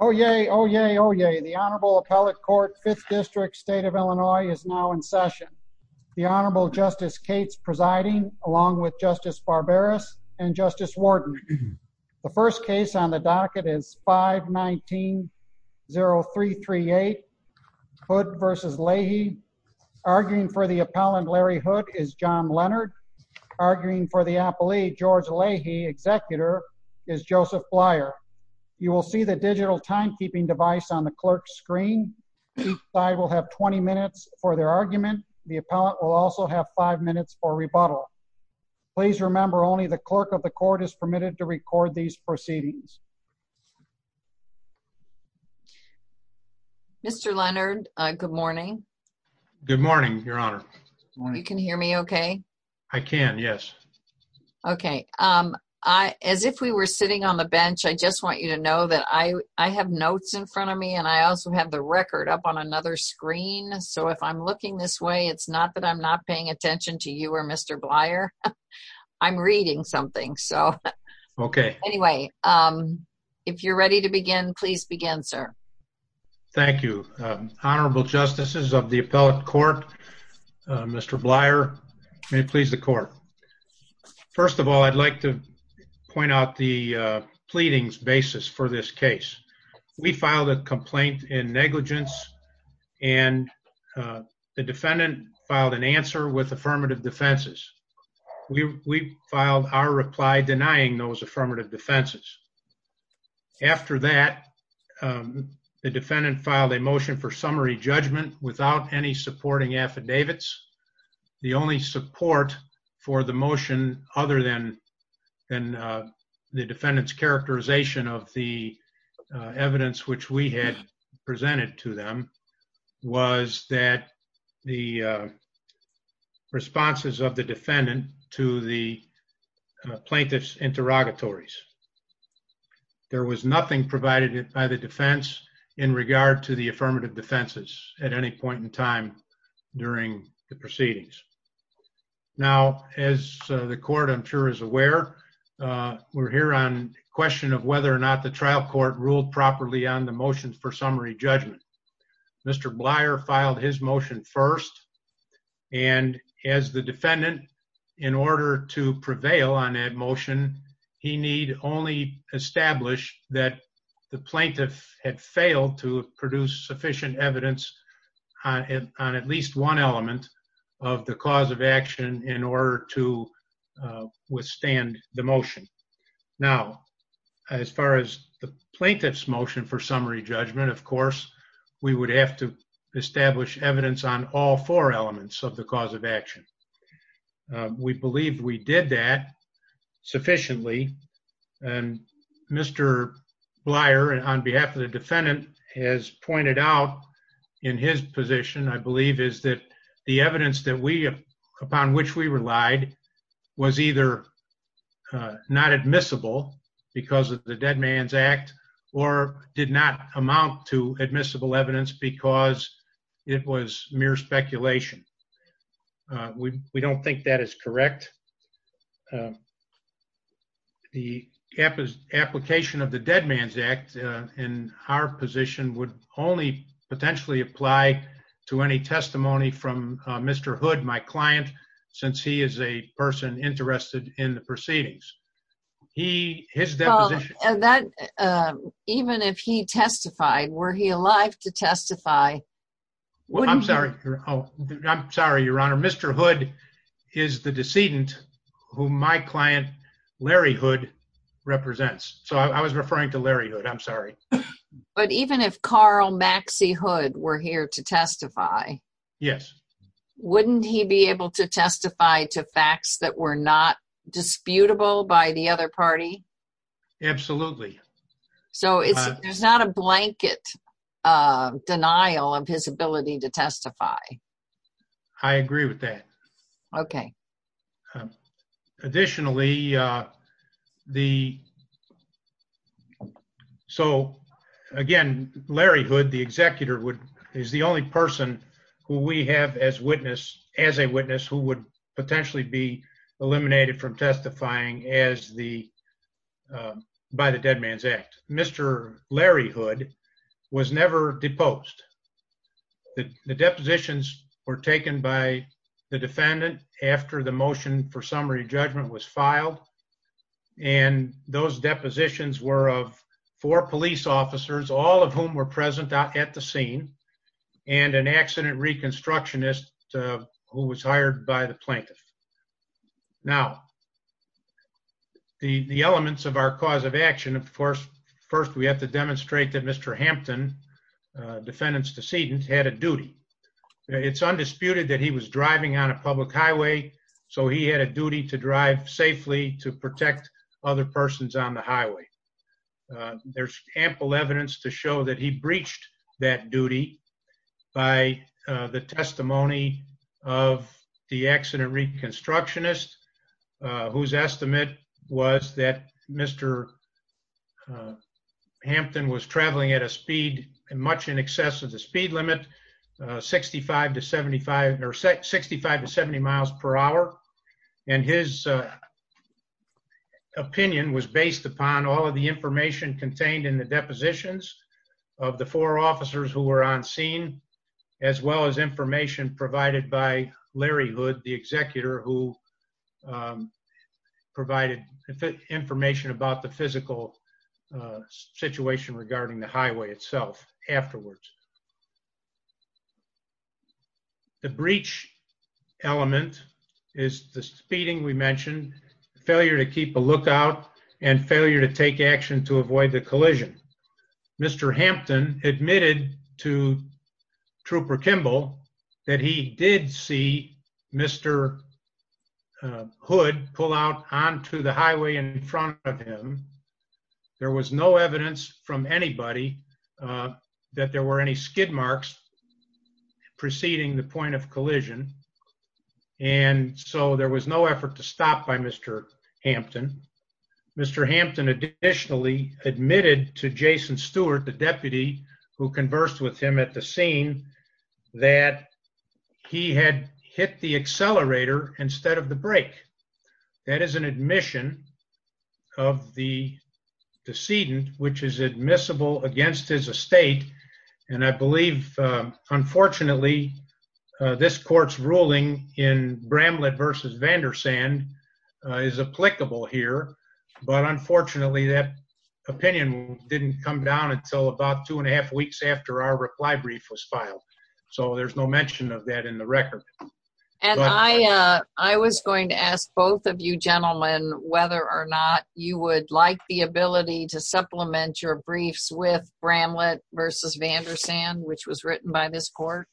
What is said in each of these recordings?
Oh, yay. Oh, yay. Oh, yay. The Honorable Appellate Court, 5th District, State of Illinois is now in session. The Honorable Justice Cates presiding along with Justice Barberis and Justice Warden. The first case on the docket is 519-0338 Hood v. Leahy. Arguing for the docketer is Joseph Blyer. You will see the digital timekeeping device on the clerk's screen. Each side will have 20 minutes for their argument. The appellate will also have five minutes for rebuttal. Please remember only the clerk of the court is permitted to record these proceedings. Mr. Leonard, good morning. Good morning, Your Honor. You can hear me okay? I can, yes. Okay. As if we were sitting on the bench, I just want you to know that I have notes in front of me and I also have the record up on another screen. So if I'm looking this way, it's not that I'm not paying attention to you or Mr. Blyer. I'm reading something. So anyway, if you're ready to begin, please begin, sir. Thank you. Honorable justices of the appellate court, Mr. Blyer, may it please the court. First of all, I'd like to point out the pleadings basis for this case. We filed a complaint in negligence and the defendant filed an answer with affirmative defenses. We filed our reply denying those affirmative defenses. After that, the defendant filed a motion for summary judgment without any supporting affidavits. The only support for the motion other than the defendant's characterization of the evidence which we had presented to them was that the defendant did not have any support for the motion. The defendant did not have any support for his interrogatories. There was nothing provided by the defense in regard to the affirmative defenses at any point in time during the proceedings. Now, as the court I'm sure is aware, we're here on question of whether or not the trial court ruled properly on the motion for summary judgment. In order to support the motion, he need only establish that the plaintiff had failed to produce sufficient evidence on at least one element of the cause of action in order to withstand the motion. Now, as far as the plaintiff's motion for summary judgment, of course, we would have to establish evidence on all four elements of the cause of action. We believe we did that sufficiently and Mr. Blier, on behalf of the defendant, has pointed out in his position, I believe, is that the evidence upon which we relied was either not admissible because of the Dead Man's Act or did not amount to admissible evidence because it was mere speculation. We don't think that is correct. The application of the Dead Man's Act in our position would only potentially apply to any testimony from Mr. Hood, my client, since he is a person interested in the proceedings. Even if he testified, were he alive to testify? I'm sorry, Your Honor. Mr. Hood is the decedent whom my client, Larry Hood, represents. So I was referring to Larry Hood. I'm sorry. But even if Carl Maxie Hood were here to testify, wouldn't he be able to testify to facts that were not disputable by the other party? Absolutely. So there's not a blanket denial of his ability to testify. I agree with that. Okay. Additionally, so again, Larry Hood, the executor, is the only person who we have as a witness who would potentially be eliminated from testifying by the Dead Man's Act. Mr. Larry Hood was never deposed. The depositions were taken by the defendant after the motion for summary judgment was filed. And those depositions were of four police officers, all of whom were present at the scene, and an accident reconstructionist who was hired by the plaintiff. Now, the elements of our cause of action, of course, first we have to demonstrate that Mr. Hampton, defendant's decedent, had a duty. It's undisputed that he was driving on a public highway, so he had a duty to drive safely to protect other persons on the highway. There's ample evidence to show that he breached that duty by the testimony of the accident reconstructionist, whose estimate was that Mr. Hampton was traveling at a speed much in excess of the speed limit, 65 to 75, or 65 to 70 miles per hour. And his opinion was based upon all of the information contained in the depositions of the four officers who were on scene, as well as information provided by Larry Hood, the executor, who provided information about the physical situation regarding the highway itself afterwards. The breach element is the speeding we mentioned, failure to keep a lookout, and failure to take action to avoid the collision. Mr. Hampton admitted to Trooper Kimball that he did see Mr. Hood pull out onto the highway in front of him. There was no evidence from anybody that there were any skid marks preceding the point of collision, and so there was no effort to stop by Mr. Hampton. Mr. Hampton additionally admitted to Jason Stewart, the deputy who conversed with him at the scene, that he had hit the accelerator instead of the brake. That is an admission of the decedent, which is admissible against his estate, and I believe, unfortunately, this court's ruling in Bramlett v. Vandersand is applicable here, but unfortunately that opinion didn't come down until about two and a half weeks after our reply brief was filed. So there's no mention of that in the record. And I was going to ask both of you gentlemen whether or not you would like the ability to supplement your briefs with Bramlett v. Vandersand, which was written by this court.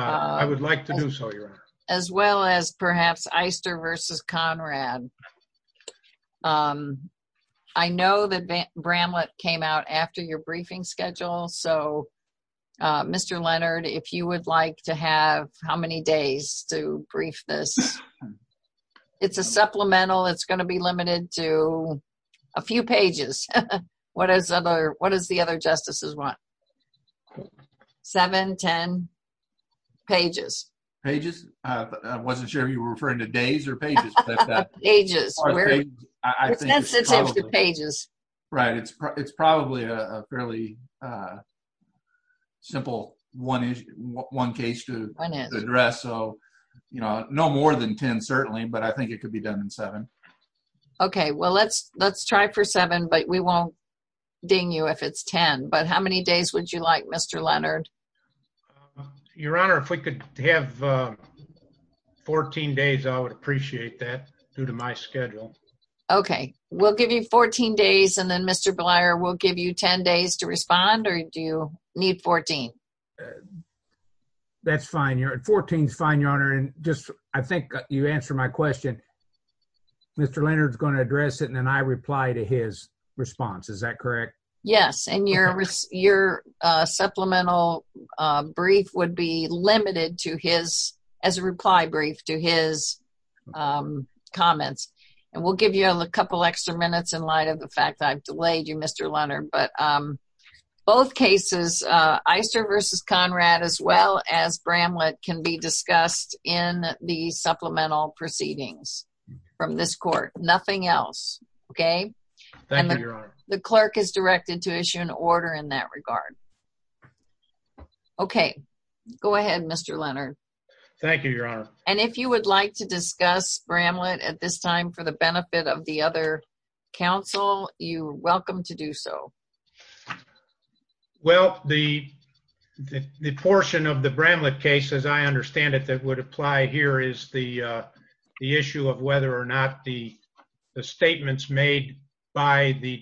I would like to do so, Your Honor. As well as perhaps Eister v. Conrad. I know that Bramlett came out after your briefing schedule, so Mr. Leonard, if you would like to have how many days to brief this. It's a supplemental. It's going to be limited to a few pages. What does the other justices want? Seven, ten pages. Pages? I wasn't sure if you were referring to days or pages. Pages. It's in the pages. Right. It's probably a fairly simple one case to address. No more than ten, certainly, but I think it could be done in seven. Okay. Well, let's try for seven, but we won't ding you if it's ten. But how many days would you like, Mr. Leonard? Your Honor, if we could have 14 days, I would appreciate that due to my schedule. Okay. We'll give you 14 days, and then Mr. Bleier will give you ten days to respond, or do you need 14? That's fine. Fourteen is fine, Your Honor. I think you answered my question. Mr. Leonard is going to address it, and then I reply to his response. Is that correct? Yes, and your supplemental brief would be limited to his, as a reply brief, to his comments. We'll give you a couple extra minutes in light of the fact that I've delayed you, Mr. Leonard. Both cases, Iser v. Conrad, as well as Bramlett, can be discussed in the supplemental proceedings from this court. Nothing else. Okay? Thank you, Your Honor. The clerk is directed to issue an order in that regard. Okay. Go ahead, Mr. Leonard. Thank you, Your Honor. And if you would like to discuss Bramlett at this time for the benefit of the other counsel, you are welcome to do so. Well, the portion of the Bramlett case, as I understand it, that would apply here is the issue of whether or not the statements made by the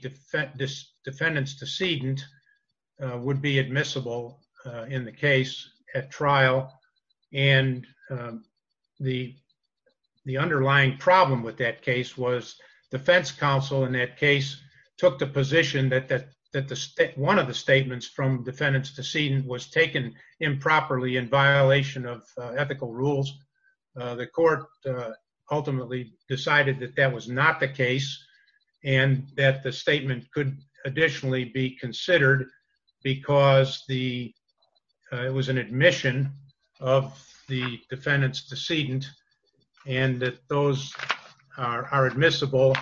defendant's decedent would be admissible in the case at trial. And the underlying problem with that case was defense counsel in that case took the position that one of the statements from defendant's decedent was taken improperly in violation of ethical rules. The court ultimately decided that that was not the case and that the statement could additionally be considered because it was an admission of the defendant's decedent and that those are admissible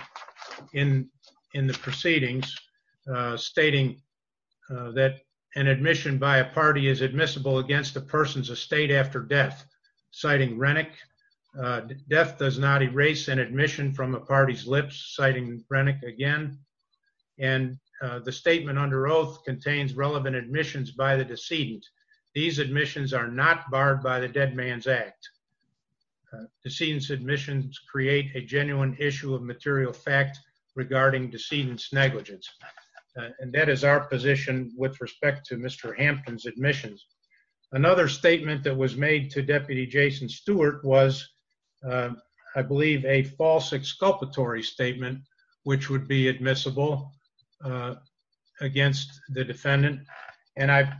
in the proceedings, stating that an admission by a party is admissible against a person's estate after death, citing Rennick. Death does not erase an admission from a party's lips, citing Rennick again. And the statement under oath contains relevant admissions by the decedent. These admissions are not barred by the Dead Man's Act. Decedent's admissions create a genuine issue of material fact regarding decedent's negligence. And that is our position with respect to Mr. Hampton's admissions. Another statement that was made to Deputy Jason Stewart was, I believe, a false exculpatory statement, which would be admissible against the defendant. And I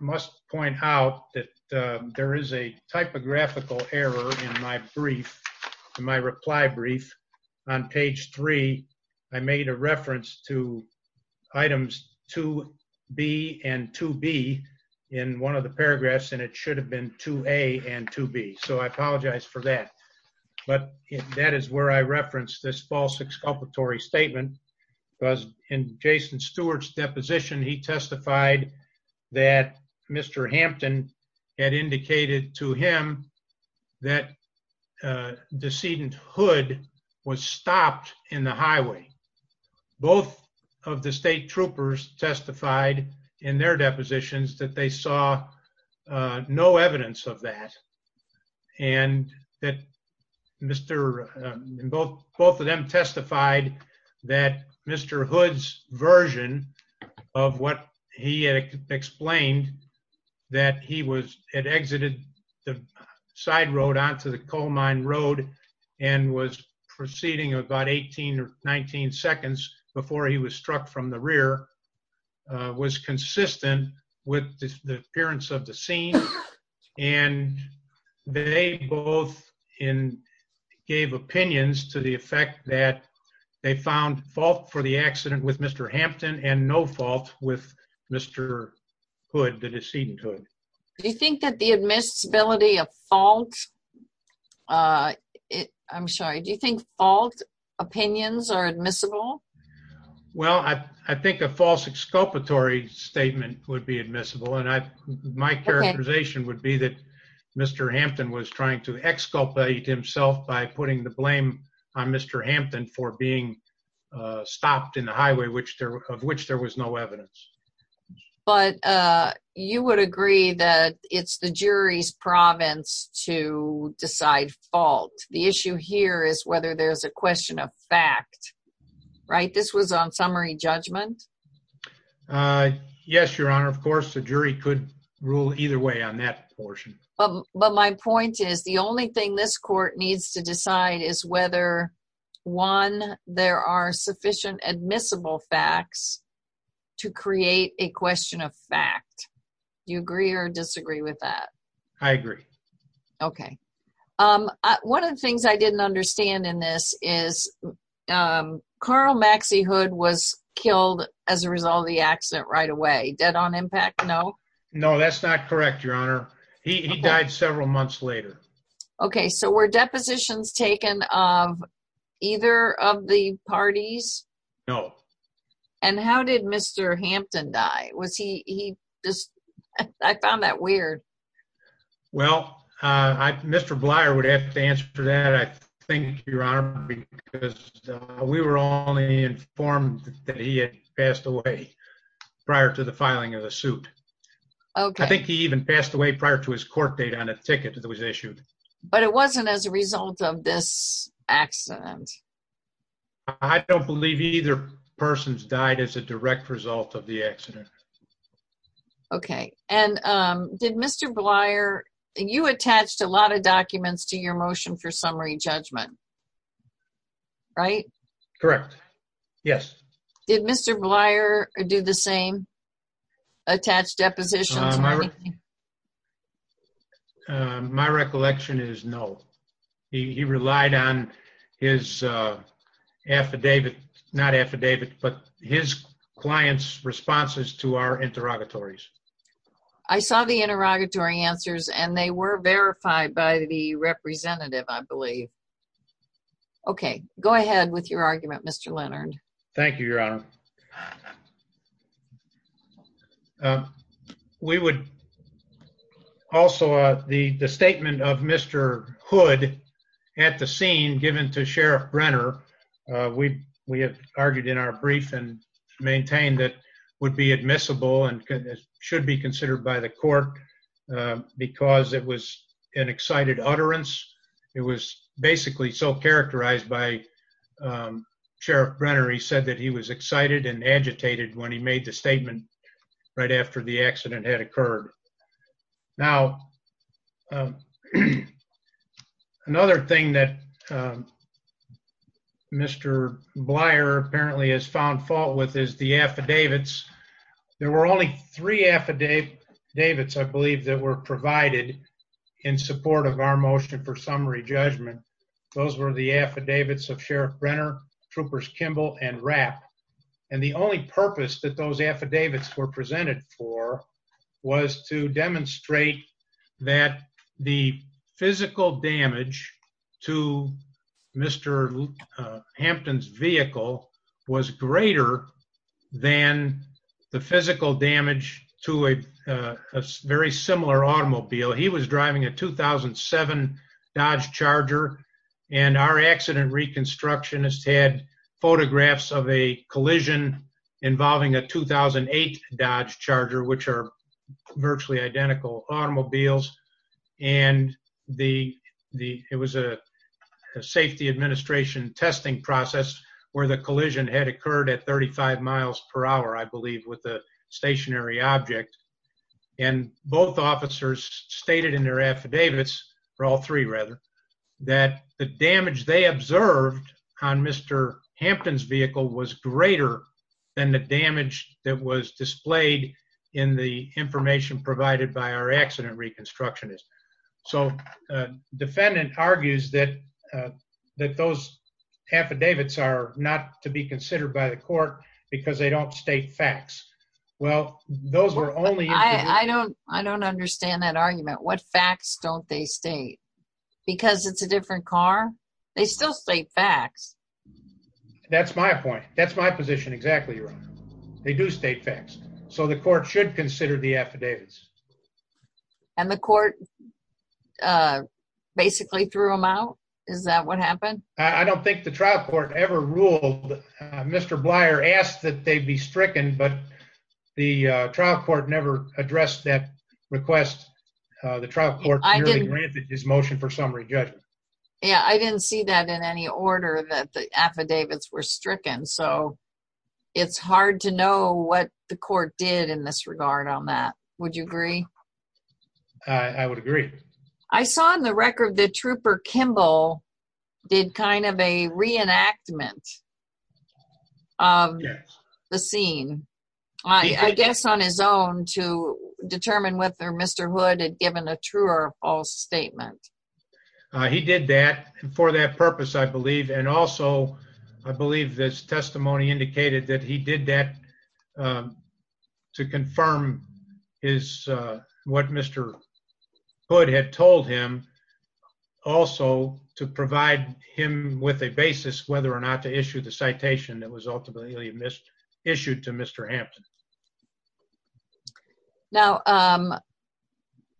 must point out that there is a typographical error in my reply brief. On page three, I made a reference to items 2B and 2B in one of the paragraphs, and it should have been 2A and 2B, so I apologize for that. But that is where I referenced this false exculpatory statement. In Jason Stewart's deposition, he testified that Mr. Hampton had indicated to him that decedent Hood was stopped in the highway. Both of the state troopers testified in their depositions that they saw no evidence of that. And both of them testified that Mr. Hood's version of what he had explained, that he had exited the side road onto the coal mine road and was proceeding about 18 or 19 seconds before he was struck from the rear, was consistent with the appearance of the scene. And they both gave opinions to the effect that they found fault for the accident with Mr. Hampton and no fault with Mr. Hood, the decedent Hood. Do you think that the admissibility of fault, I'm sorry, do you think fault opinions are admissible? Well, I think a false exculpatory statement would be admissible, and my characterization would be that Mr. Hampton was trying to exculpate himself by putting the blame on Mr. Hampton for being stopped in the highway of which there was no evidence. But you would agree that it's the jury's province to decide fault. The issue here is whether there's a question of fact, right? This was on summary judgment. Yes, Your Honor. Of course, the jury could rule either way on that portion. But my point is the only thing this court needs to decide is whether, one, there are sufficient admissible facts to create a question of fact. Do you agree or disagree with that? I agree. Okay. One of the things I didn't understand in this is Carl Maxie Hood was killed as a result of the accident right away. Dead on impact, no? No, that's not correct, Your Honor. He died several months later. Okay, so were depositions taken of either of the parties? No. And how did Mr. Hampton die? I found that weird. Well, Mr. Blyer would have to answer that, I think, Your Honor, because we were only informed that he had passed away prior to the filing of the suit. I think he even passed away prior to his court date on a ticket that was issued. But it wasn't as a result of this accident. I don't believe either person's died as a direct result of the accident. Okay. And did Mr. Blyer – you attached a lot of documents to your motion for summary judgment, right? Correct. Yes. Did Mr. Blyer do the same? Attach depositions or anything? My recollection is no. He relied on his client's responses to our interrogatories. I saw the interrogatory answers, and they were verified by the representative, I believe. Okay. Go ahead with your argument, Mr. Leonard. Thank you, Your Honor. We would – also, the statement of Mr. Hood at the scene given to Sheriff Brenner, we have argued in our brief and maintained that would be admissible and should be considered by the court because it was an excited utterance. It was basically so characterized by Sheriff Brenner. He said that he was excited and agitated when he made the statement right after the accident had occurred. Now, another thing that Mr. Blyer apparently has found fault with is the affidavits. There were only three affidavits, I believe, that were provided in support of our motion for summary judgment. Those were the affidavits of Sheriff Brenner, Troopers Kimball, and Rapp. And the only purpose that those affidavits were presented for was to demonstrate that the physical damage to Mr. Hampton's vehicle was greater than the physical damage to a very similar automobile. He was driving a 2007 Dodge Charger, and our accident reconstructionist had photographs of a collision involving a 2008 Dodge Charger, which are virtually identical automobiles. And it was a safety administration testing process where the collision had occurred at 35 miles per hour, I believe, with a stationary object. And both officers stated in their affidavits, or all three rather, that the damage they observed on Mr. Hampton's vehicle was greater than the damage that was displayed in the information provided by our accident reconstructionist. So the defendant argues that those affidavits are not to be considered by the court because they don't state facts. Well, those were only... I don't understand that argument. What facts don't they state? Because it's a different car? They still state facts. That's my point. That's my position exactly, Your Honor. They do state facts. So the court should consider the affidavits. And the court basically threw them out? Is that what happened? I don't think the trial court ever ruled. Mr. Blyer asked that they be stricken, but the trial court never addressed that request. The trial court merely granted his motion for summary judgment. Yeah, I didn't see that in any order that the affidavits were stricken. So it's hard to know what the court did in this regard on that. Would you agree? I would agree. I saw in the record that Trooper Kimball did kind of a reenactment of the scene. I guess on his own to determine whether Mr. Hood had given a true or false statement. He did that for that purpose, I believe. And also, I believe this testimony indicated that he did that to confirm what Mr. Hood had told him, also to provide him with a basis whether or not to issue the citation that was ultimately issued to Mr. Hampton. Now,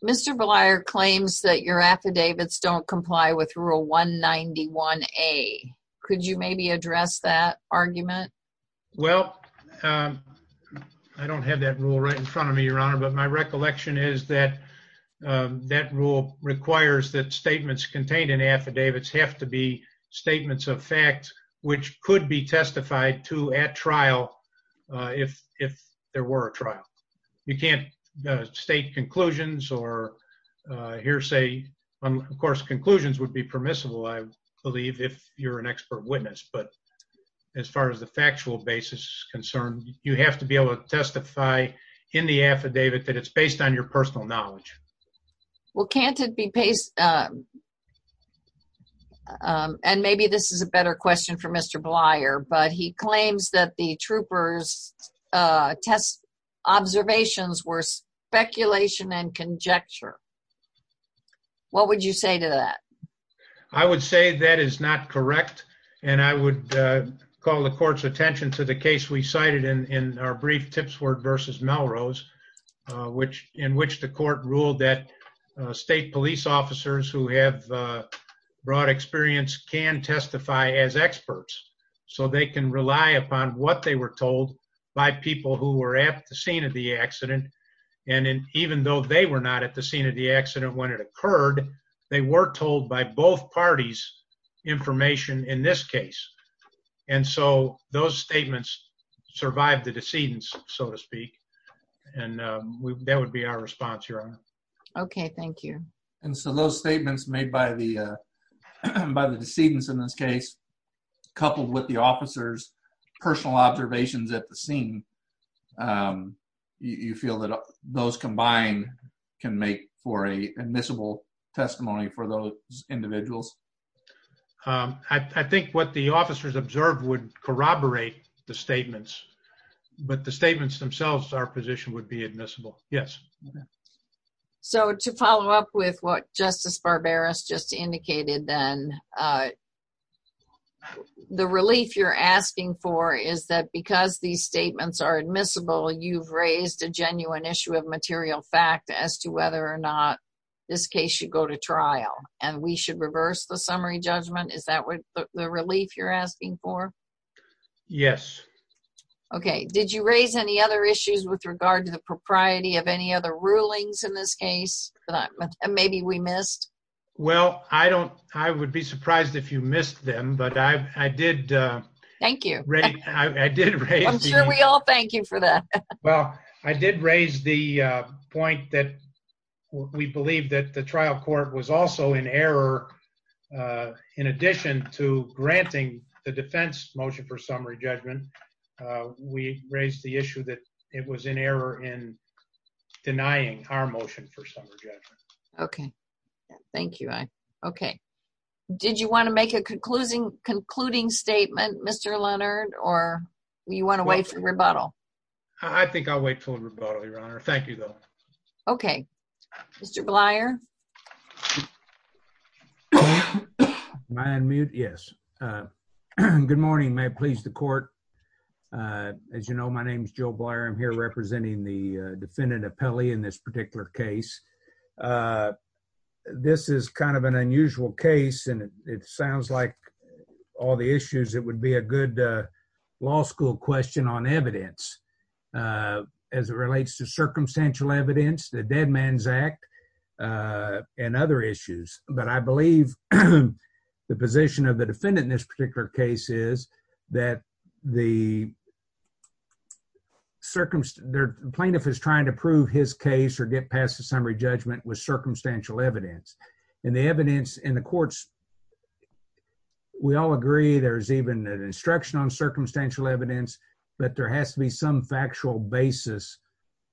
Mr. Blyer claims that your affidavits don't comply with Rule 191A. Could you maybe address that argument? Well, I don't have that rule right in front of me, Your Honor, but my recollection is that that rule requires that statements contained in affidavits have to be statements of fact, which could be testified to at trial if there were a trial. You can't state conclusions or hearsay. Of course, conclusions would be permissible, I believe, if you're an expert witness. But as far as the factual basis is concerned, you have to be able to testify in the affidavit that it's based on your personal knowledge. Well, can't it be based... And maybe this is a better question for Mr. Blyer, but he claims that the troopers' test observations were speculation and conjecture. What would you say to that? I would say that is not correct, and I would call the court's attention to the case we cited in our brief Tipsworth v. Melrose, in which the court ruled that state police officers who have broad experience can testify as experts, so they can rely upon what they were told by people who were at the scene of the accident. And even though they were not at the scene of the accident when it occurred, they were told by both parties information in this case. And so those statements survived the decedents, so to speak, and that would be our response, Your Honor. Okay, thank you. And so those statements made by the decedents in this case, coupled with the officers' personal observations at the scene, you feel that those combined can make for an admissible testimony for those individuals? I think what the officers observed would corroborate the statements, but the statements themselves, our position would be admissible. Yes. So to follow up with what Justice Barberos just indicated, then, the relief you're asking for is that because these statements are admissible, you've raised a genuine issue of material fact as to whether or not this case should go to trial, and we should reverse the summary judgment? Is that the relief you're asking for? Yes. Okay, did you raise any other issues with regard to the propriety of any other rulings in this case that maybe we missed? Well, I don't, I would be surprised if you missed them, but I did. Thank you. I did. I'm sure we all thank you for that. Well, I did raise the point that we believe that the trial court was also in error. In addition to granting the defense motion for summary judgment, we raised the issue that it was in error in denying our motion for summary judgment. Okay. Thank you. Okay. Did you want to make a concluding statement, Mr. Leonard, or you went away for rebuttal? I think I'll wait for rebuttal, Your Honor. Thank you, though. Okay. Mr. Blyer? Am I on mute? Yes. Good morning. May it please the court. As you know, my name is Joe Blyer. I'm here representing the defendant, Apelli, in this particular case. This is kind of an unusual case, and it sounds like all the issues, it would be a good law school question on evidence as it relates to circumstantial evidence, the Dead Man's Act, and other issues. But I believe the position of the defendant in this particular case is that the plaintiff is trying to prove his case or get past the summary judgment with circumstantial evidence. And the evidence in the courts, we all agree there's even an instruction on circumstantial evidence, but there has to be some factual basis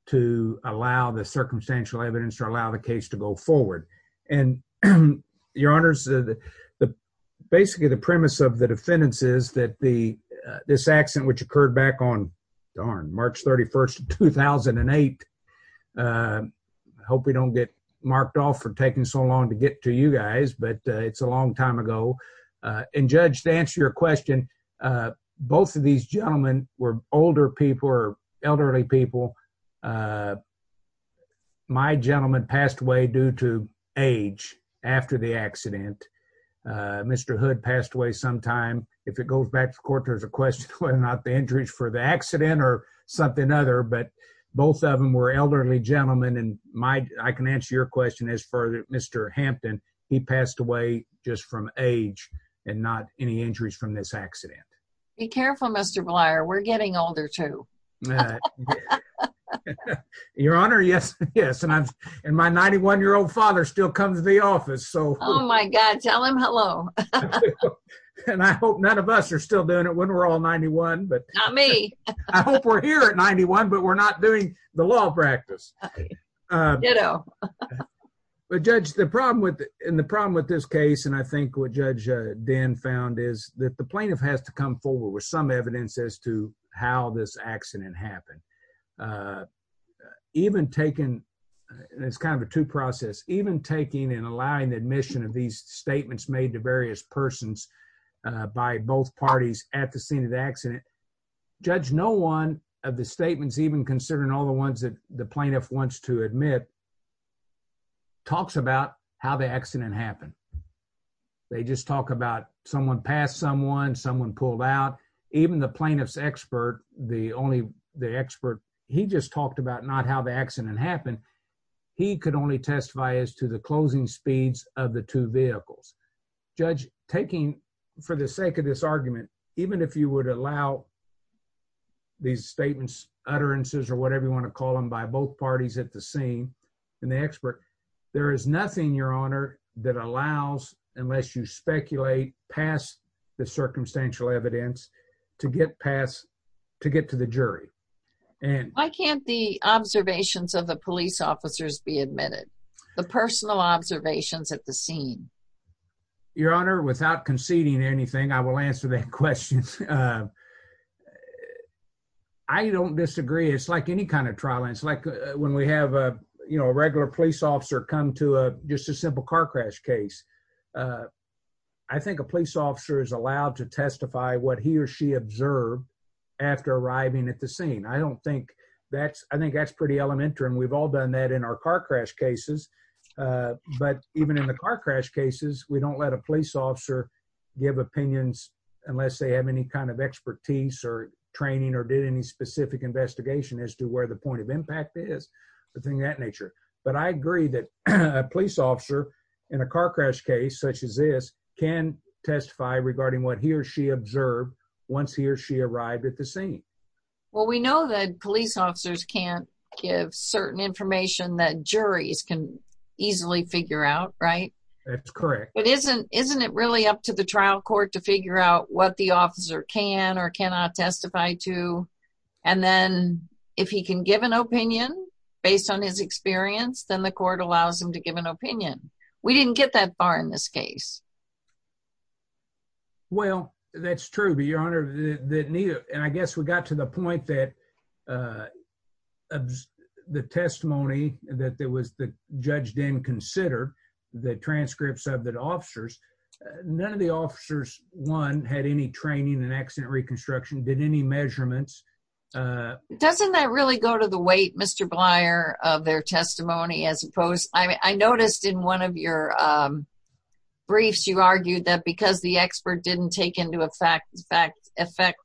to allow the circumstantial evidence to allow the case to go forward. And, Your Honors, basically the premise of the defendants is that this accident which occurred back on, darn, March 31, 2008, I hope we don't get marked off for taking so long to get to you guys, but it's a long time ago. And, Judge, to answer your question, both of these gentlemen were older people or elderly people. My gentleman passed away due to age after the accident. Mr. Hood passed away sometime. And if it goes back to court, there's a question whether or not the injuries for the accident or something other. But both of them were elderly gentlemen, and I can answer your question as for Mr. Hampton. He passed away just from age and not any injuries from this accident. Be careful, Mr. Blyer. We're getting older, too. Your Honor, yes, yes. And my 91-year-old father still comes to the office. Oh, my God. Tell him hello. And I hope none of us are still doing it when we're all 91. Not me. I hope we're here at 91, but we're not doing the law practice. Ditto. But, Judge, the problem with this case, and I think what Judge Dinn found, is that the plaintiff has to come forward with some evidence as to how this accident happened. It's kind of a two-process. Even taking and allowing the admission of these statements made to various persons by both parties at the scene of the accident, Judge, no one of the statements, even considering all the ones that the plaintiff wants to admit, talks about how the accident happened. They just talk about someone passed someone, someone pulled out. Even the plaintiff's expert, the only expert, he just talked about not how the accident happened. He could only testify as to the closing speeds of the two vehicles. Judge, taking, for the sake of this argument, even if you would allow these statements, utterances, or whatever you want to call them, by both parties at the scene, there is nothing, Your Honor, that allows, unless you speculate past the circumstantial evidence, to get past, to get to the jury. Why can't the observations of the police officers be admitted? The personal observations at the scene. Your Honor, without conceding anything, I will answer that question. I don't disagree. It's like any kind of trial. It's like when we have a regular police officer come to just a simple car crash case. I think a police officer is allowed to testify what he or she observed after arriving at the scene. I think that's pretty elementary, and we've all done that in our car crash cases. But even in the car crash cases, we don't let a police officer give opinions unless they have any kind of expertise or training or did any specific investigation as to where the point of impact is, a thing of that nature. But I agree that a police officer in a car crash case such as this can testify regarding what he or she observed once he or she arrived at the scene. Well, we know that police officers can't give certain information that juries can easily figure out, right? That's correct. But isn't it really up to the trial court to figure out what the officer can or cannot testify to? And then if he can give an opinion based on his experience, then the court allows him to give an opinion. We didn't get that far in this case. Well, that's true, but, Your Honor, and I guess we got to the point that the testimony that the judge didn't consider, the transcripts of the officers, none of the officers, one, had any training in accident reconstruction, did any measurements. Doesn't that really go to the weight, Mr. Blyer, of their testimony? I noticed in one of your briefs, you argued that because the expert didn't take into effect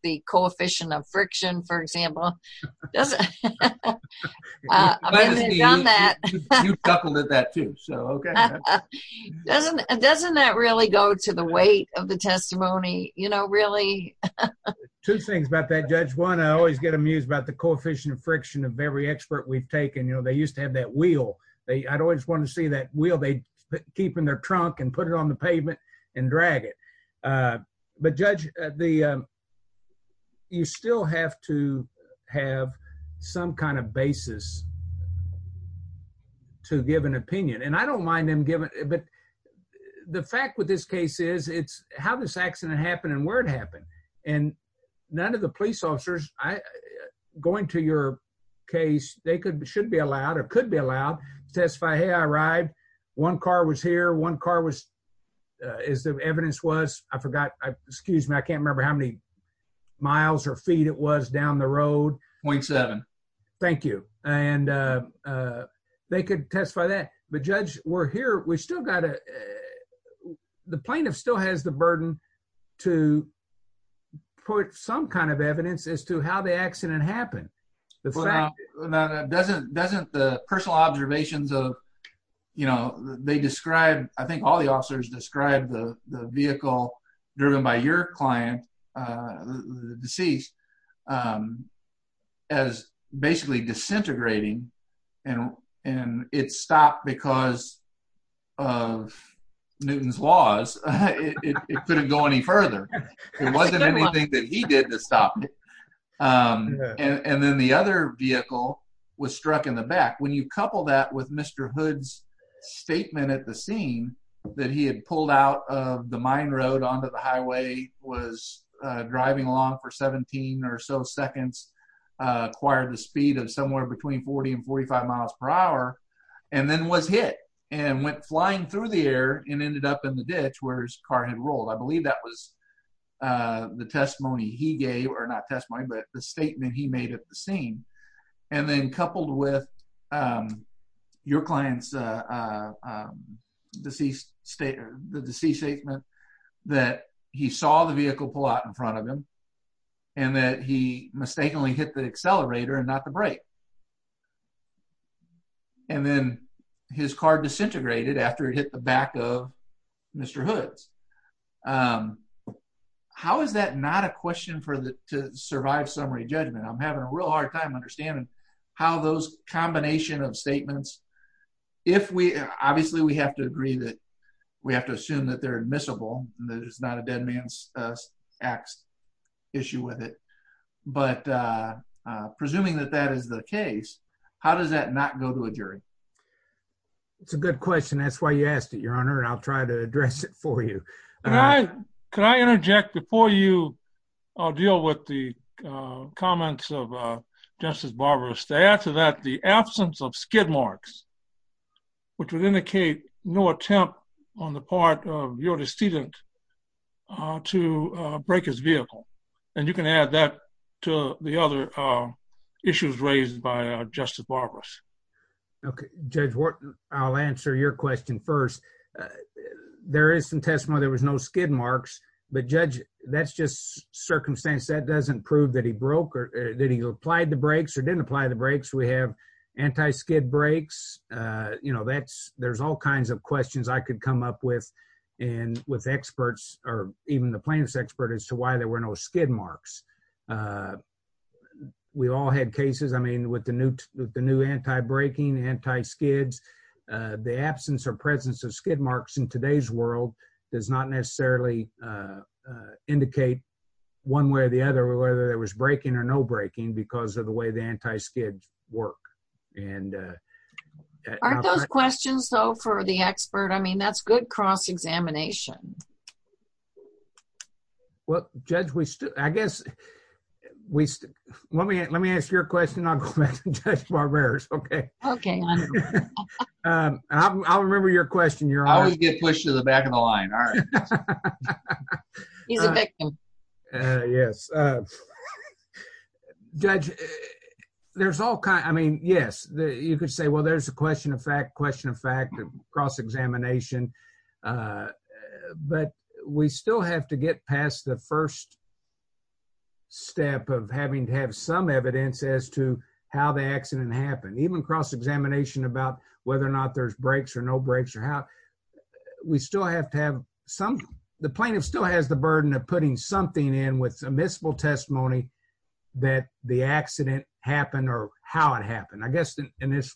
the coefficient of friction, for example. Doesn't that really go to the weight of the testimony, you know, really? Two things about that, Judge. One, I always get amused about the coefficient of friction of every expert we've taken. You know, they used to have that wheel. I'd always want to see that wheel. They'd keep it in their trunk and put it on the pavement and drag it. But, Judge, you still have to have some kind of basis to give an opinion. And I don't mind them giving, but the fact with this case is, it's how this accident happened and where it happened. And none of the police officers, going to your case, they should be allowed or could be allowed to testify, hey, I arrived, one car was here, one car was, as the evidence was, I forgot, excuse me, I can't remember how many miles or feet it was down the road. 0.7. Thank you. And they could testify that. But, Judge, we're here, we still got to, the plaintiff still has the burden to put some kind of evidence as to how the accident happened. Doesn't the personal observations of, you know, they described, I think all the officers described the vehicle driven by your client, the deceased, as basically disintegrating and it stopped because of Newton's laws. It couldn't go any further. It wasn't anything that he did to stop it. And then the other vehicle was struck in the back. When you couple that with Mr. Hood's statement at the scene that he had pulled out of the mine road onto the highway, was driving along for 17 or so seconds, acquired the speed of somewhere between 40 and 45 miles per hour, and then was hit and went flying through the air and ended up in the ditch where his car had rolled. I believe that was the testimony he gave, or not testimony, but the statement he made at the scene. And then coupled with your client's deceased statement that he saw the vehicle pull out in front of him and that he mistakenly hit the accelerator and not the brake. And then his car disintegrated after it hit the back of Mr. Hood's. How is that not a question for the to survive summary judgment? I'm having a real hard time understanding how those combination of statements, if we obviously we have to agree that we have to assume that they're admissible. There's not a dead man's ax issue with it. But presuming that that is the case, how does that not go to a jury? It's a good question. That's why you asked it, Your Honor, and I'll try to address it for you. Could I interject before you deal with the comments of Justice Barbarous to add to that the absence of skid marks, which would indicate no attempt on the part of your decedent to break his vehicle. And you can add that to the other issues raised by Justice Barbarous. Okay, Judge Wharton, I'll answer your question first. There is some testimony, there was no skid marks. But Judge, that's just circumstance that doesn't prove that he broke or that he applied the brakes or didn't apply the brakes. We have anti skid brakes. You know, that's there's all kinds of questions I could come up with. And with experts or even the plaintiff's expert as to why there were no skid marks. We all had cases. I mean, with the new with the new anti braking anti skids, the absence or presence of skid marks in today's world does not necessarily indicate one way or the other, whether there was braking or no braking because of the way the anti skid work and Aren't those questions, though, for the expert? I mean, that's good cross examination. Well, Judge, we still I guess we let me let me ask your question. I'll go back to Judge Barbarous. Okay. Okay. I'll remember your question, you're Always get pushed to the back of the line. Judge, there's all kinds. I mean, yes, you could say, well, there's a question of fact, question of fact, cross examination. But we still have to get past the first Step of having to have some evidence as to how the accident happened even cross examination about whether or not there's brakes or no brakes or how We still have to have some the plaintiff still has the burden of putting something in with a miscible testimony that the accident happened or how it happened. I guess in this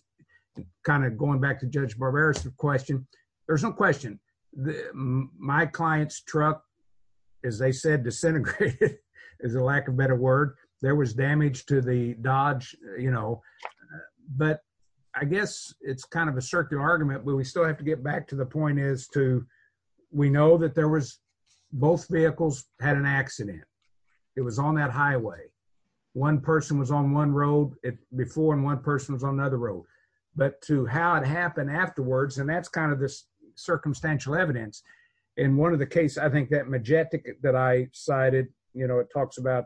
Kind of going back to Judge Barbarous question. There's no question that my clients truck, as they said disintegrated is a lack of better word there was damage to the Dodge, you know, But I guess it's kind of a circular argument, but we still have to get back to the point is to we know that there was both vehicles had an accident. It was on that highway. One person was on one road it before and one person was on another road, but to how it happened afterwards. And that's kind of this circumstantial evidence in one of the case, I think that majestic that I cited, you know, it talks about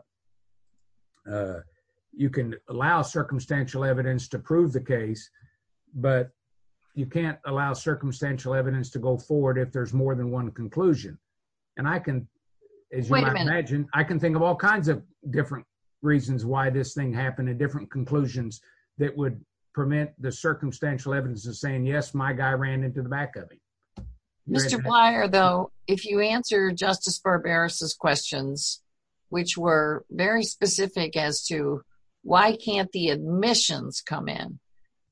You can allow circumstantial evidence to prove the case, but you can't allow circumstantial evidence to go forward. If there's more than one conclusion and I can Imagine, I can think of all kinds of different reasons why this thing happened in different conclusions that would permit the circumstantial evidence of saying yes, my guy ran into the back of it. Though, if you answer Justice Barbarous questions which were very specific as to why can't the admissions come in.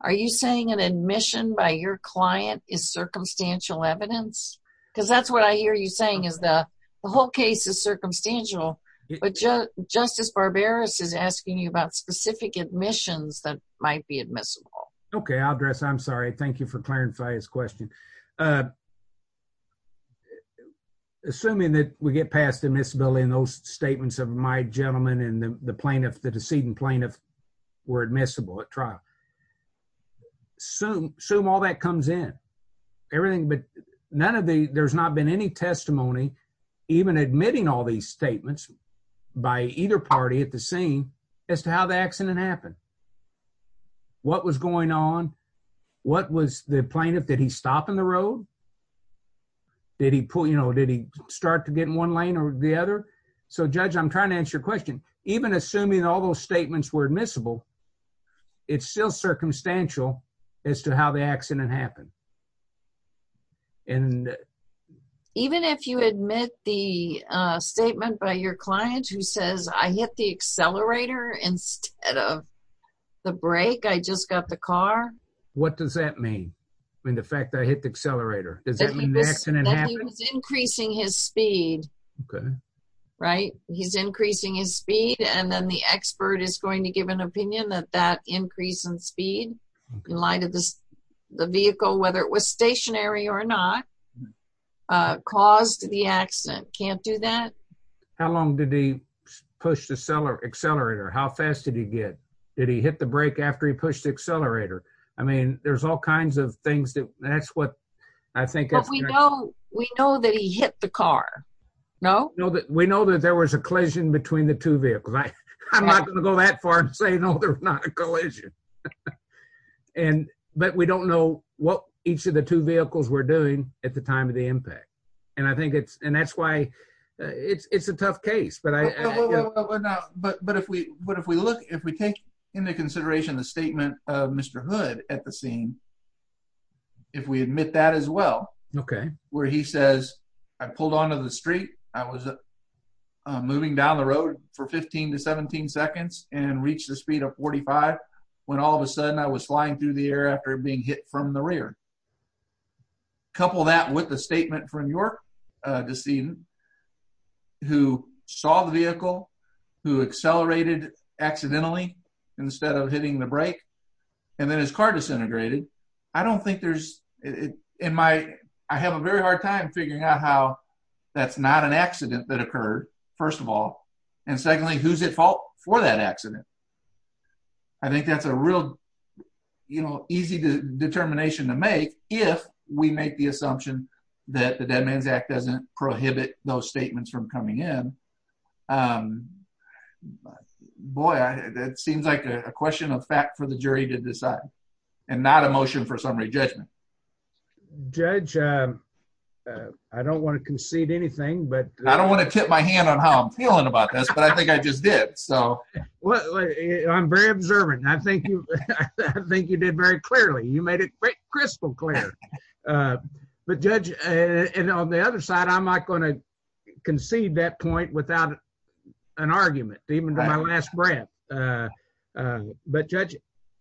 Are you saying an admission by your client is circumstantial evidence because that's what I hear you saying is the whole case is circumstantial, but just Justice Barbarous is asking you about specific admissions that might be admissible. Okay, I'll address. I'm sorry. Thank you for clarifying his question. Assuming that we get past admissibility and those statements of my gentleman and the plaintiff, the decedent plaintiff were admissible at trial. Assume all that comes in everything but none of the there's not been any testimony even admitting all these statements by either party at the scene as to how the accident happened. What was going on. What was the plaintiff. Did he stop in the road. Did he pull, you know, did he start to get in one lane or the other. So, Judge, I'm trying to answer your question, even assuming all those statements were admissible. It's still circumstantial as to how the accident happened. Even if you admit the statement by your client who says I hit the accelerator instead of the break. I just got the car. What does that mean when the fact I hit the accelerator. Increasing his speed. Okay. Right. He's increasing his speed and then the expert is going to give an opinion that that increase in speed in light of this the vehicle, whether it was stationary or not. Caused the accident can't do that. How long did he push the seller accelerator. How fast did he get. Did he hit the break after he pushed the accelerator. I mean, there's all kinds of things that that's what I think if we Know, we know that he hit the car. Know that we know that there was a collision between the two vehicles. I'm not going to go that far and say no, there's not a collision. And but we don't know what each of the two vehicles, we're doing at the time of the impact. And I think it's and that's why it's a tough case, but I But, but if we, but if we look if we take into consideration the statement of Mr. Hood at the scene. If we admit that as well. Okay, where he says I pulled onto the street. I was Moving down the road for 15 to 17 seconds and reach the speed of 45 when all of a sudden I was flying through the air after being hit from the rear. Couple that with the statement from your decision. Who saw the vehicle who accelerated accidentally instead of hitting the brake and then his car disintegrated. I don't think there's it in my I have a very hard time figuring out how that's not an accident that occurred. First of all, and secondly, who's at fault for that accident. I think that's a real, you know, easy to determination to make if we make the assumption that the dead man's act doesn't prohibit those statements from coming in. Boy, that seems like a question of fact for the jury to decide and not emotion for summary judgment. Judge I don't want to concede anything but I don't want to tip my hand on how I'm feeling about this, but I think I just did so Well, I'm very observant. I think you think you did very clearly. You made it crystal clear But judge and on the other side, I'm not going to concede that point without an argument, even my last breath. But judge,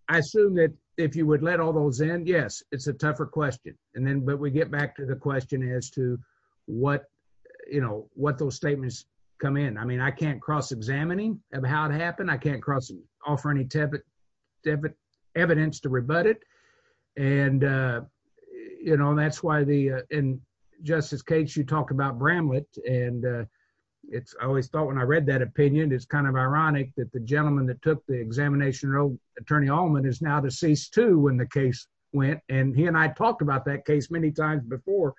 I assume that if you would let all those in. Yes, it's a tougher question. And then, but we get back to the question as to What you know what those statements come in. I mean, I can't cross examining of how it happened. I can't cross offer any debit debit evidence to rebut it and You know, that's why the in justice case you talked about Bramlett and It's always thought when I read that opinion. It's kind of ironic that the gentleman that took the examination road attorney almond is now deceased to when the case went and he and I talked about that case many times before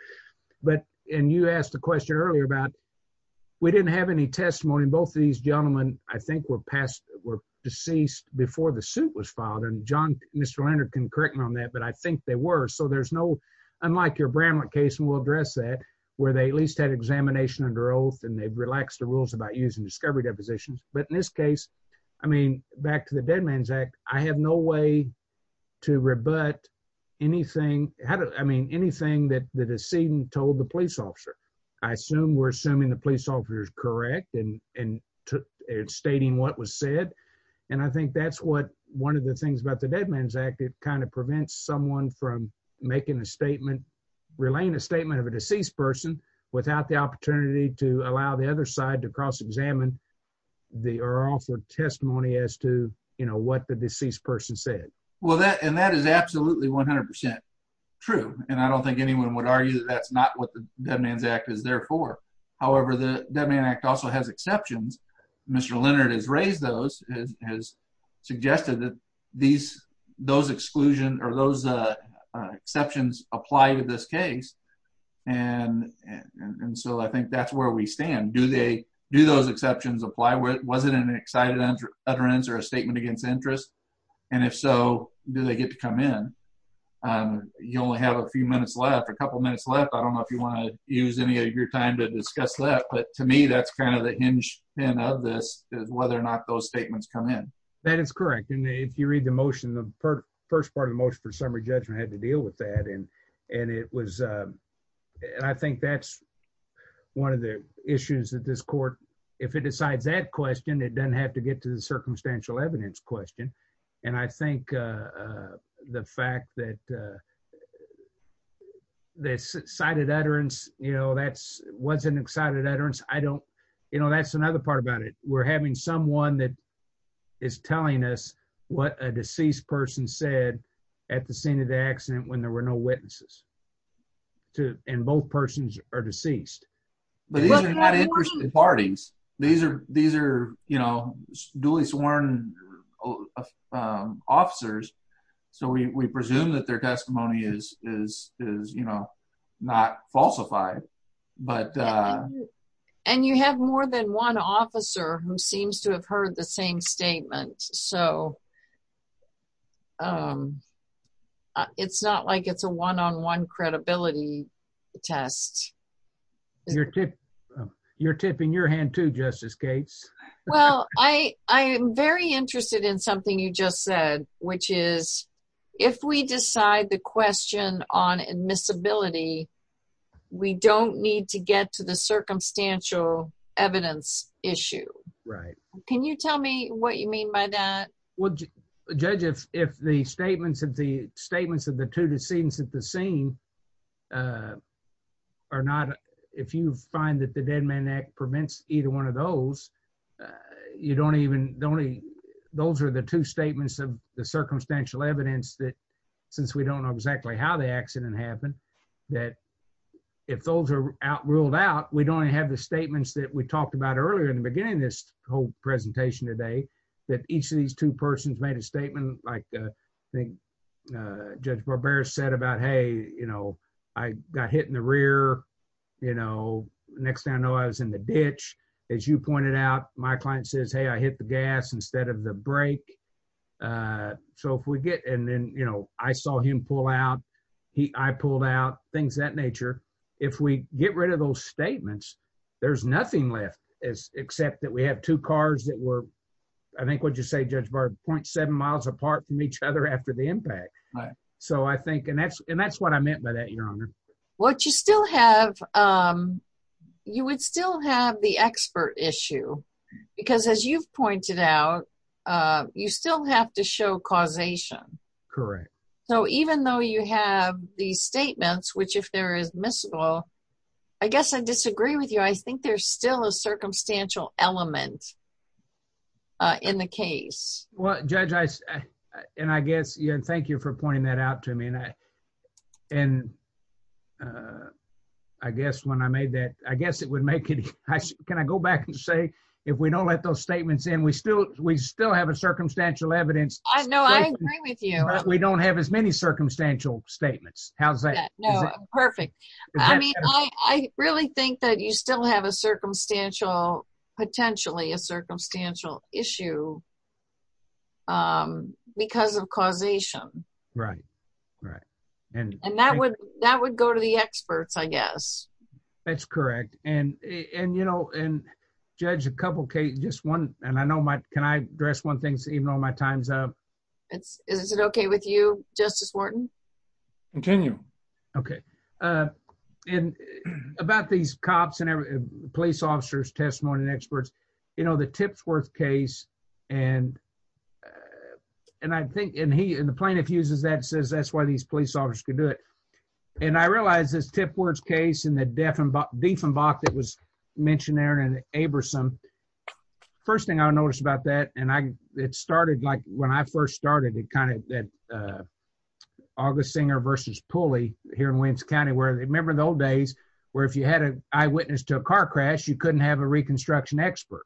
But in you asked the question earlier about We didn't have any testimony. Both of these gentlemen, I think we're past were deceased before the suit was filed and john Mr. Leonard can correct me on that. But I think they were so there's no Unlike your Bramlett case and we'll address that where they at least had examination under oath and they've relaxed the rules about using discovery depositions. But in this case, I mean, back to the dead man's act. I have no way To rebut anything. How do I mean anything that the decedent told the police officer. I assume we're assuming the police officers correct and and Stating what was said. And I think that's what one of the things about the dead man's act. It kind of prevents someone from making a statement. Relaying a statement of a deceased person without the opportunity to allow the other side to cross examine the or offer testimony as to, you know what the deceased person said Well that and that is absolutely 100% true. And I don't think anyone would argue that that's not what the dead man's act is there for However, the dead man act also has exceptions. Mr. Leonard has raised those has suggested that these those exclusion or those Exceptions apply to this case. And so I think that's where we stand. Do they do those exceptions apply with wasn't an excited under utterance or a statement against interest. And if so, do they get to come in. You only have a few minutes left a couple minutes left. I don't know if you want to use any of your time to discuss that. But to me, that's kind of the hinge in of this is whether or not those statements come in. That is correct. And if you read the motion. The first part of motion for summary judgment had to deal with that and and it was I think that's one of the issues that this court, if it decides that question. It doesn't have to get to the circumstantial evidence question. And I think The fact that This cited utterance, you know, that's what's an excited utterance. I don't, you know, that's another part about it. We're having someone that is telling us what a deceased person said at the scene of the accident when there were no witnesses. To and both persons are deceased. Parties. These are these are, you know, duly sworn Officers, so we presume that their testimony is is is, you know, not falsified but And you have more than one officer who seems to have heard the same statement. So It's not like it's a one on one credibility test. Your tip your tip in your hand to Justice Gates. Well, I, I am very interested in something you just said, which is if we decide the question on admissibility. We don't need to get to the circumstantial evidence issue. Right. Can you tell me what you mean by that. Well, Judge, if, if the statements of the statements of the two decedents at the scene. Are not if you find that the Dead Man Act prevents either one of those You don't even don't even those are the two statements of the circumstantial evidence that since we don't know exactly how the accident happened that If those are out ruled out. We don't have the statements that we talked about earlier in the beginning, this whole presentation today that each of these two persons made a statement like Judge Barbera said about, hey, you know, I got hit in the rear, you know, next I know I was in the ditch. As you pointed out, my client says, hey, I hit the gas instead of the break So if we get and then, you know, I saw him pull out he I pulled out things that nature. If we get rid of those statements. There's nothing left is except that we have two cars that were I think what you say, Judge Barbera point seven miles apart from each other after the impact. So I think, and that's, and that's what I meant by that, Your Honor. What you still have You would still have the expert issue because as you've pointed out, you still have to show causation. Correct. So even though you have the statements which if there is miscible. I guess I disagree with you. I think there's still a circumstantial element. In the case. Well, Judge, I and I guess you and thank you for pointing that out to me and I and I guess when I made that I guess it would make it. Can I go back and say if we don't let those statements and we still we still have a circumstantial evidence. I know I agree with you. We don't have as many circumstantial statements. How's that Perfect. I mean, I really think that you still have a circumstantial potentially a circumstantial issue. Because of causation. Right, right. And and that would that would go to the experts, I guess. That's correct. And, and, you know, and judge a couple cases. Just one. And I know my can I address one things, even on my time's up. It's, is it okay with you, Justice Wharton. Continue. Okay. And about these cops and police officers testimony and experts, you know, the tips worth case and And I think in he in the plaintiff uses that says that's why these police officers could do it. And I realized this tip words case in the deaf and deaf and box. It was mentioned there and Abraham. First thing I noticed about that and I it started like when I first started it kind of that August singer versus pulley here in Williams County, where they remember the old days where if you had an eyewitness to a car crash, you couldn't have a reconstruction expert.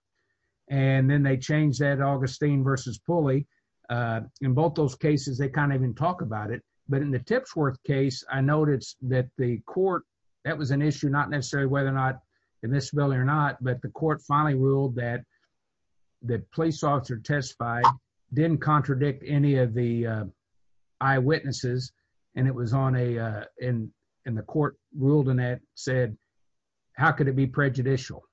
And then they change that Augustine versus pulley in both those cases, they kind of even talk about it, but in the tips worth case I noticed that the court. That was an issue, not necessarily whether or not in this building or not, but the court finally ruled that That police officer testify didn't contradict any of the eyewitnesses and it was on a in in the court ruled in it said, how could it be prejudicial.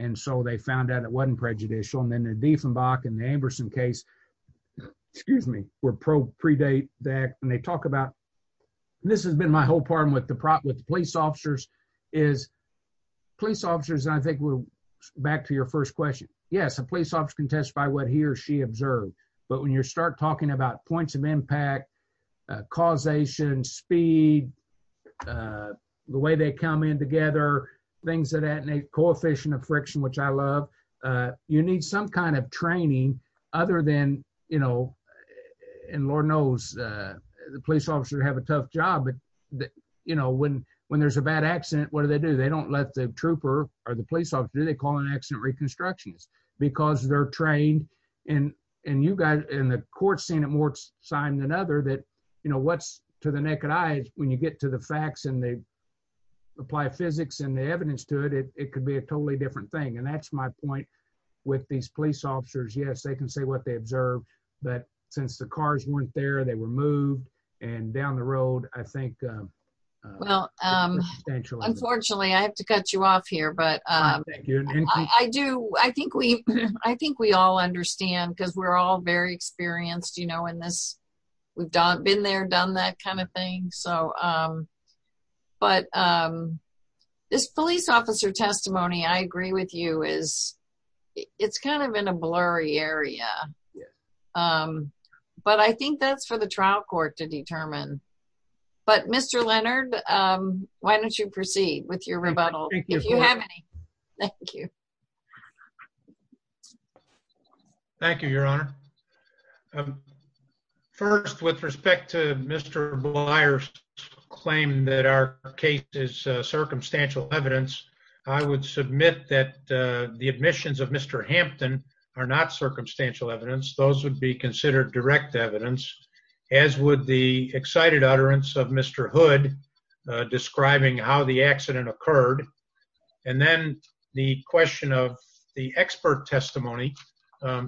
And so they found out it wasn't prejudicial and then a defund back in the Amberson case. Excuse me, we're pro predate that when they talk about this has been my whole problem with the problem with police officers is Police officers. And I think we're back to your first question. Yes, a police officer can testify what he or she observed, but when you start talking about points of impact causation speed. The way they come in together, things that add a coefficient of friction, which I love. You need some kind of training, other than, you know, And Lord knows the police officer have a tough job. But, you know, when, when there's a bad accident. What do they do, they don't let the trooper or the police officer, they call an accident reconstructions Because they're trained and and you guys in the court seen it more sign than other that you know what's to the naked eyes. When you get to the facts and they It could be a totally different thing. And that's my point with these police officers. Yes, they can say what they observed that since the cars weren't there. They were moved and down the road. I think Well, Unfortunately, I have to cut you off here, but I do. I think we, I think we all understand because we're all very experienced, you know, in this we've done been there, done that kind of thing. So, um, but This police officer testimony. I agree with you is it's kind of in a blurry area. But I think that's for the trial court to determine. But Mr. Leonard, why don't you proceed with your rebuttal. Thank you. Thank you, Your Honor. First, with respect to Mr buyers claim that our case is circumstantial evidence, I would submit that the admissions of Mr Hampton are not circumstantial evidence, those would be considered direct evidence, as would the excited utterance of Mr hood describing how the accident occurred. And then the question of the expert testimony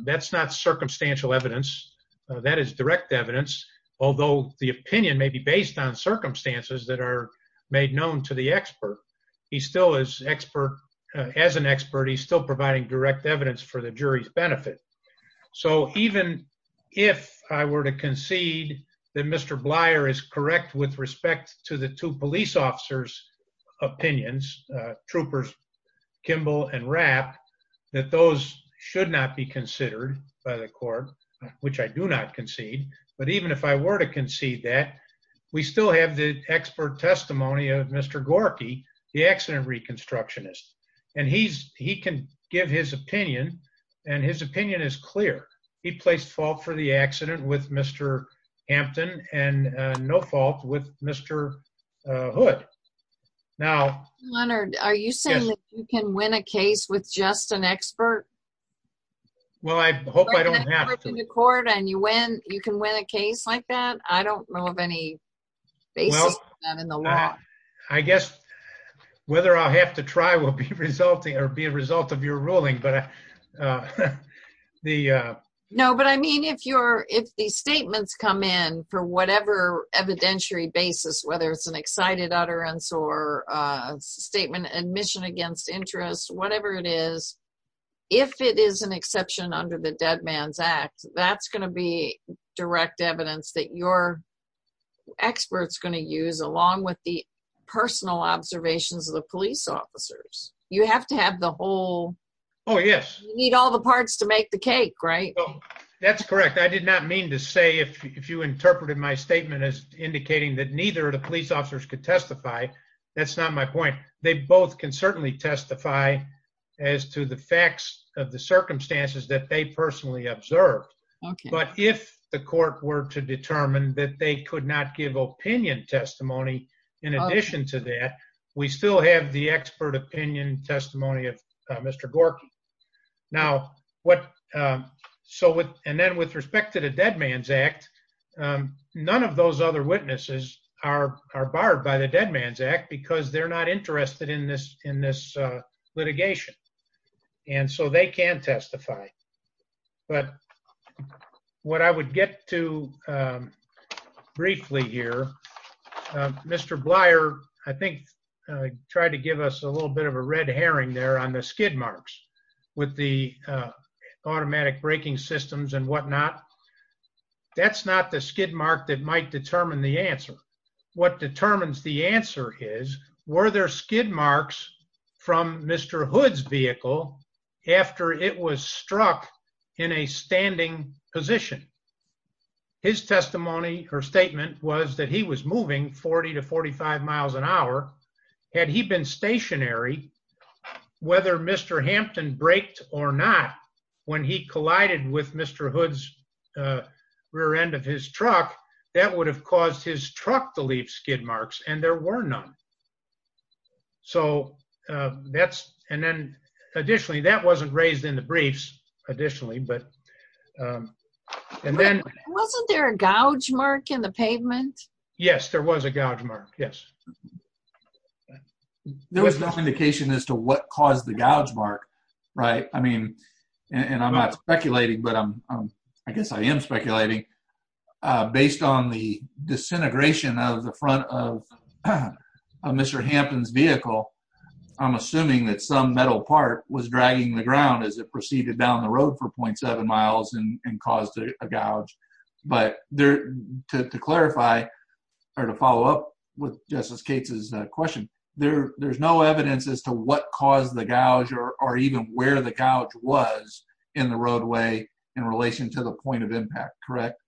that's not circumstantial evidence that is direct evidence, although the opinion may be based on circumstances that are made known to the expert. He still is expert as an expert. He's still providing direct evidence for the jury's benefit. So even if I were to concede that Mr Blyer is correct with respect to the two police officers opinions troopers Kimball and wrap that those should not be considered by the court, which I do not concede. But even if I were to concede that we still have the expert testimony of Mr Gorky the accident reconstruction is and he's he can give his opinion and his opinion is clear. He placed fault for the accident with Mr Hampton and no fault with Mr hood. Now, Leonard, are you saying you can win a case with just an expert. Well, I hope I don't have to court and you when you can win a case like that. I don't know of any basis. I guess whether I'll have to try will be resulting or be a result of your ruling, but The know, but I mean, if you're if the statements come in for whatever evidentiary basis, whether it's an excited utterance or statement admission against interest, whatever it is. If it is an exception under the dead man's act that's going to be direct evidence that you're experts going to use along with the personal observations of the police officers, you have to have the whole Oh, yes. Need all the parts to make the cake right Oh, that's correct. I did not mean to say if you interpreted my statement is indicating that neither the police officers could testify. That's not my point. They both can certainly testify as to the facts of the circumstances that they personally observed. But if the court were to determine that they could not give opinion testimony. In addition to that, we still have the expert opinion testimony of Mr. Gorky now what So with and then with respect to the dead man's act. None of those other witnesses are are barred by the dead man's act because they're not interested in this in this litigation. And so they can testify. But What I would get to Briefly here. Mr. Blyer, I think I tried to give us a little bit of a red herring there on the skid marks with the automatic braking systems and whatnot. That's not the skid mark that might determine the answer. What determines the answer is, were there skid marks from Mr. Hood's vehicle after it was struck in a standing position. His testimony or statement was that he was moving 40 to 45 miles an hour. Had he been stationary, whether Mr. Hampton braked or not, when he collided with Mr. Hood's rear end of his truck that would have caused his truck to leave skid marks and there were none. So that's and then additionally that wasn't raised in the briefs. Additionally, but Wasn't there a gouge mark in the pavement. Yes, there was a gouge mark. Yes. There was no indication as to what caused the gouge mark. Right. I mean, and I'm not speculating, but I'm, I guess I am speculating Based on the disintegration of the front of Mr. Hampton's vehicle. I'm assuming that some metal part was dragging the ground as it proceeded down the road for point seven miles and caused a gouge. But there to clarify Or to follow up with Justice Cates' question, there's no evidence as to what caused the gouge or even where the gouge was in the roadway in relation to the point of impact, correct?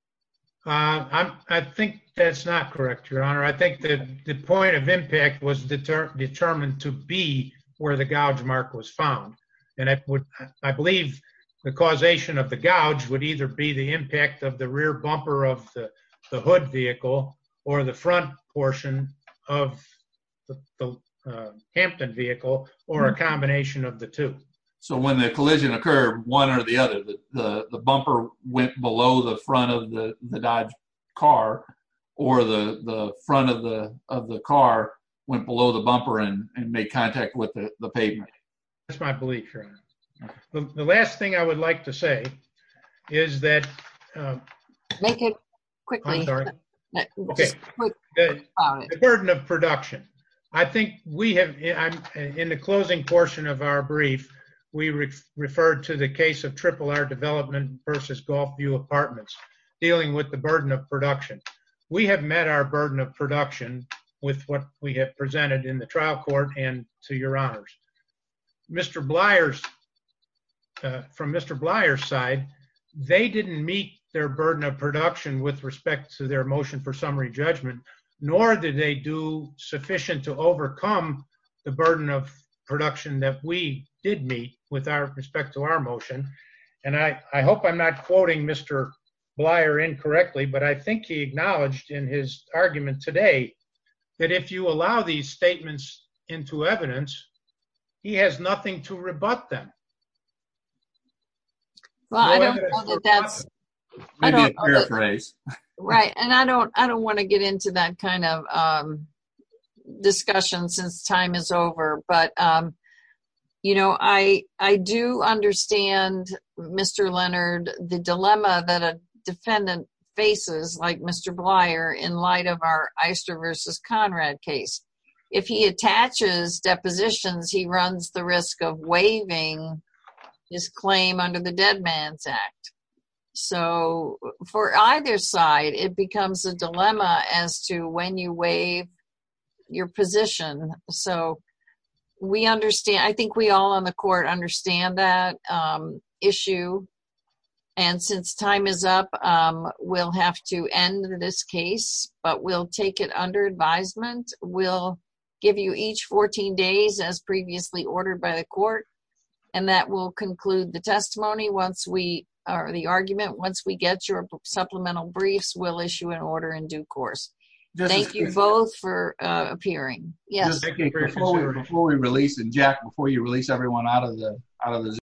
I think that's not correct, Your Honor. I think that the point of impact was determined to be where the gouge mark was found. And I believe the causation of the gouge would either be the impact of the rear bumper of the hood vehicle or the front portion of the Hampton vehicle or a combination of the two. So when the collision occurred, one or the other, the bumper went below the front of the Dodge car or the front of the car went below the bumper and make contact with the pavement. That's my belief, Your Honor. The last thing I would like to say is that Make it quickly. The burden of production. I think we have, in the closing portion of our brief, we referred to the case of Triple R Development versus Golf View Apartments dealing with the burden of production. We have met our burden of production with what we have presented in the trial court and to Your Honors. Mr. Blyer's, from Mr. Blyer's side, they didn't meet their burden of production with respect to their motion for summary judgment, nor did they do sufficient to overcome the burden of production that we did meet with our respect to our motion. And I hope I'm not quoting Mr. Blyer incorrectly, but I think he acknowledged in his argument today that if you allow these statements into evidence, he has nothing to rebut them. Well, I don't know that that's Right. And I don't, I don't want to get into that kind of discussion since time is over. But, you know, I do understand, Mr. Leonard, the dilemma that a defendant faces like Mr. Blyer in light of our Eister versus Conrad case. If he attaches depositions, he runs the risk of waiving his claim under the Dead Man's Act. So for either side, it becomes a dilemma as to when you waive your position. So we understand. I think we all on the court understand that issue. And since time is up, we'll have to end this case, but we'll take it under advisement. We'll give you each 14 days as previously ordered by the court. And that will conclude the testimony once we, or the argument, once we get your supplemental briefs, we'll issue an order in due course. Thank you both for appearing. Yes. Before we release, and Jack, before you release everyone out of the, out of the Zoom.